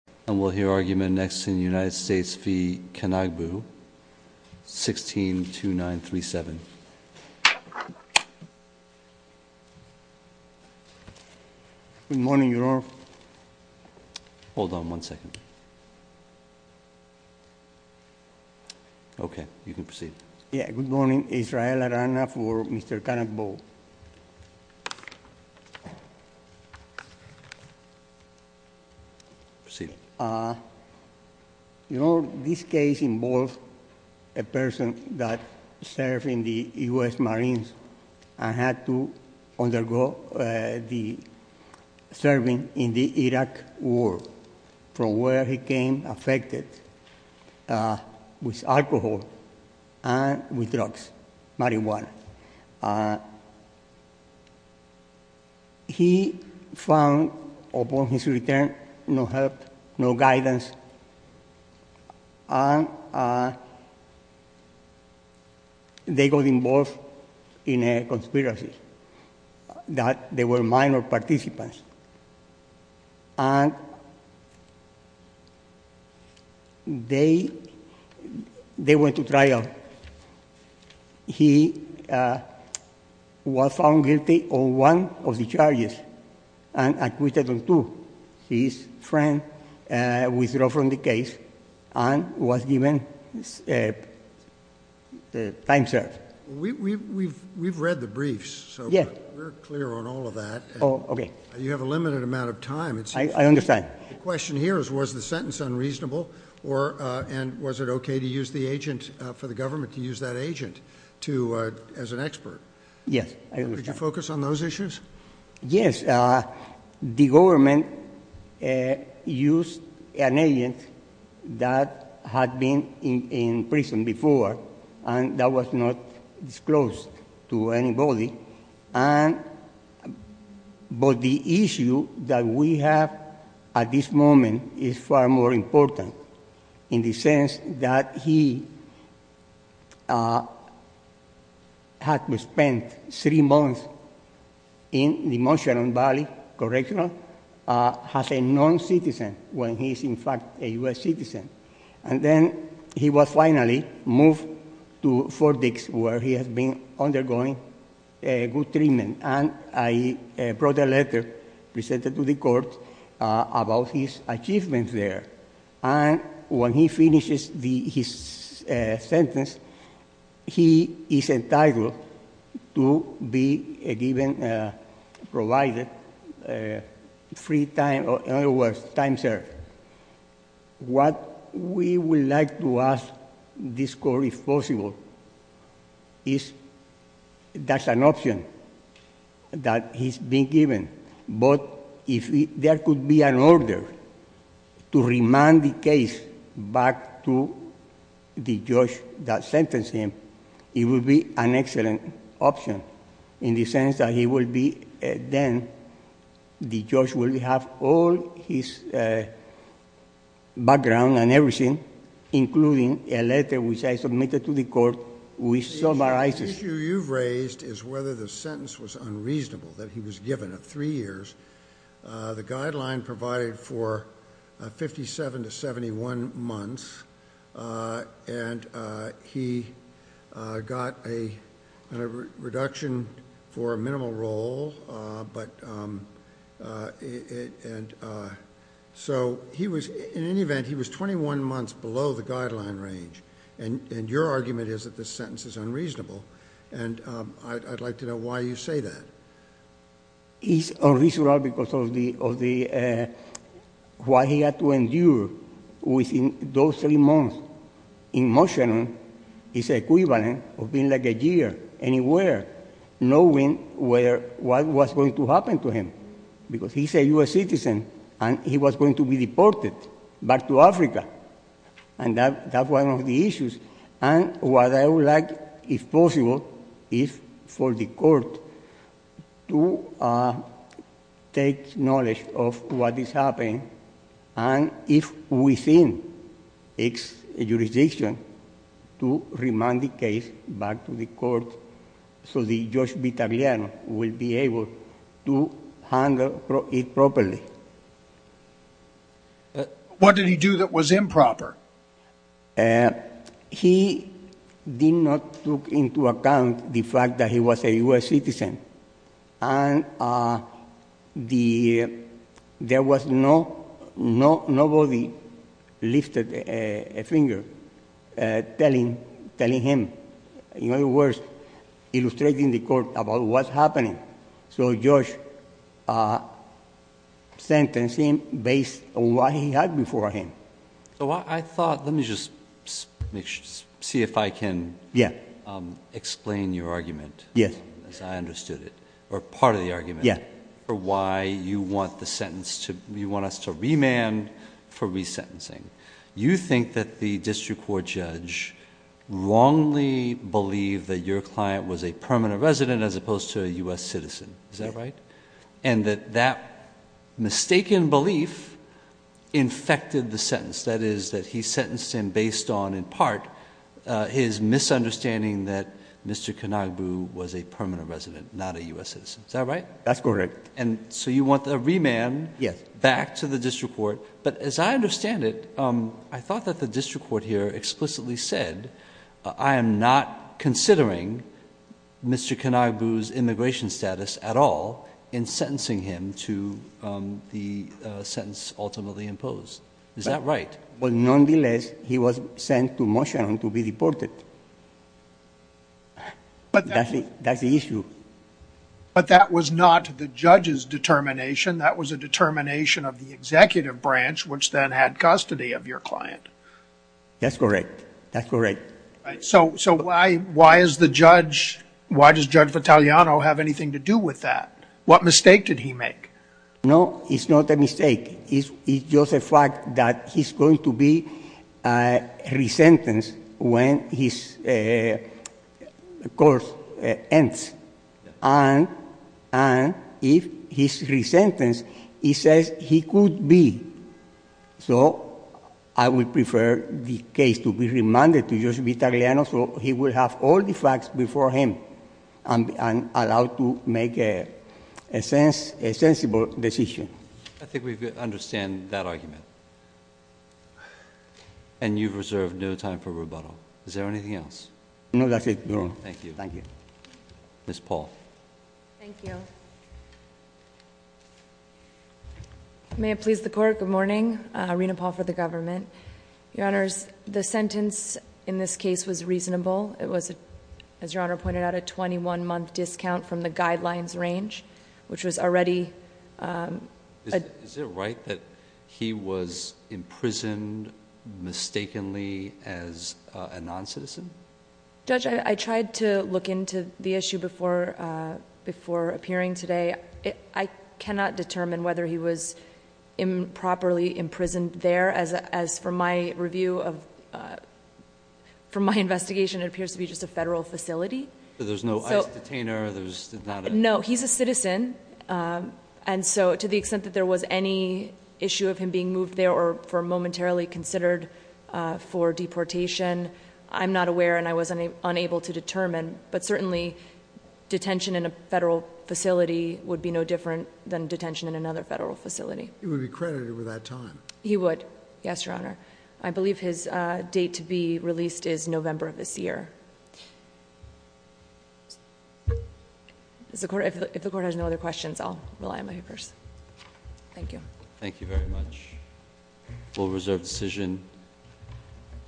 And we'll hear argument next in the United States v. Kanagbu, 162937. Good morning, Your Honor. Hold on one second. Okay, you can proceed. Yeah, good morning. Israel Arana for Mr. Kanagbu. You know, this case involves a person that served in the U.S. Marines and had to undergo the serving in the Iraq war, from where he became affected with alcohol and with drugs, marijuana. And he found upon his return no help, no guidance, and they got involved in a conspiracy, that they were minor participants. And they went to trial. He was found guilty on one of the charges and acquitted on two. His friend withdrew from the case and was given time served. We've read the briefs, so we're clear on all of that. Okay. You have a limited amount of time. I understand. The question here is, was the sentence unreasonable? And was it okay for the government to use that agent as an expert? Yes, I understand. Could you focus on those issues? Yes. The government used an agent that had been in prison before and that was not disclosed to anybody. But the issue that we have at this moment is far more important, in the sense that he had to spend three months in the Monterey Valley correctional, as a non-citizen, when he is, in fact, a U.S. citizen. And then he was finally moved to Fort Dix, where he has been undergoing good treatment. And I brought a letter, presented to the court, about his achievements there. And when he finishes his sentence, he is entitled to be given, provided free time, in other words, time served. What we would like to ask this court, if possible, is that's an option that he's been given. But if there could be an order to remand the case back to the judge that sentenced him, it would be an excellent option, in the sense that he will be then, the judge will have all his background and everything, including a letter which I submitted to the court which summarizes. The issue you've raised is whether the sentence was unreasonable, that he was given three years. The guideline provided for 57 to 71 months, and he got a reduction for a minimal role. So, in any event, he was 21 months below the guideline range, and your argument is that this sentence is unreasonable. And I'd like to know why you say that. It's unreasonable because of what he had to endure within those three months. In motion, it's equivalent of being like a jail, anywhere, knowing what was going to happen to him. Because he's a U.S. citizen, and he was going to be deported back to Africa. And what I would like, if possible, is for the court to take knowledge of what is happening, and if within its jurisdiction, to remand the case back to the court, so the judge Vitagliano will be able to handle it properly. What did he do that was improper? He did not take into account the fact that he was a U.S. citizen. And there was nobody lifted a finger telling him, in other words, illustrating the court about what's happening. So, Judge sentenced him based on what he had before him. Let me just see if I can explain your argument, as I understood it, or part of the argument, for why you want us to remand for resentencing. You think that the district court judge wrongly believed that your client was a permanent resident as opposed to a U.S. citizen. Is that right? And that that mistaken belief infected the sentence. That is, that he sentenced him based on, in part, his misunderstanding that Mr. Kanagbu was a permanent resident, not a U.S. citizen. Is that right? That's correct. And so you want the remand back to the district court. But that was not the judge's determination. That was a determination of the executive branch, which then had custody of your client. That's correct. That's correct. So, so why, why is the judge, why does Judge Vitaliano have anything to do with that? No, it's not a mistake. It's just a fact that he's going to be resentenced when his course ends. And if he's resentenced, he says he could be. So I would prefer the case to be remanded to Judge Vitaliano so he will have all the facts before him and allowed to make a sensible decision. I think we understand that argument. And you've reserved no time for rebuttal. Is there anything else? No, that's it, Your Honor. Thank you. Thank you. Ms. Paul. Thank you. May it please the court. Good morning. Rena Paul for the government. Your Honors, the sentence in this case was reasonable. It was, as Your Honor pointed out, a 21-month discount from the guidelines range, which was already... Is it right that he was imprisoned mistakenly as a non-citizen? Judge, I tried to look into the issue before appearing today. I cannot determine whether he was improperly imprisoned there. As for my review of... From my investigation, it appears to be just a federal facility. So there's no ICE detainer? No, he's a citizen. And so, to the extent that there was any issue of him being moved there or momentarily considered for deportation, I'm not aware and I was unable to determine. But certainly, detention in a federal facility would be no different than detention in another federal facility. He would be credited with that time? He would. Yes, Your Honor. I believe his date to be released is November of this year. If the court has no other questions, I'll rely on my papers. Thank you. Thank you very much. We'll reserve the decision.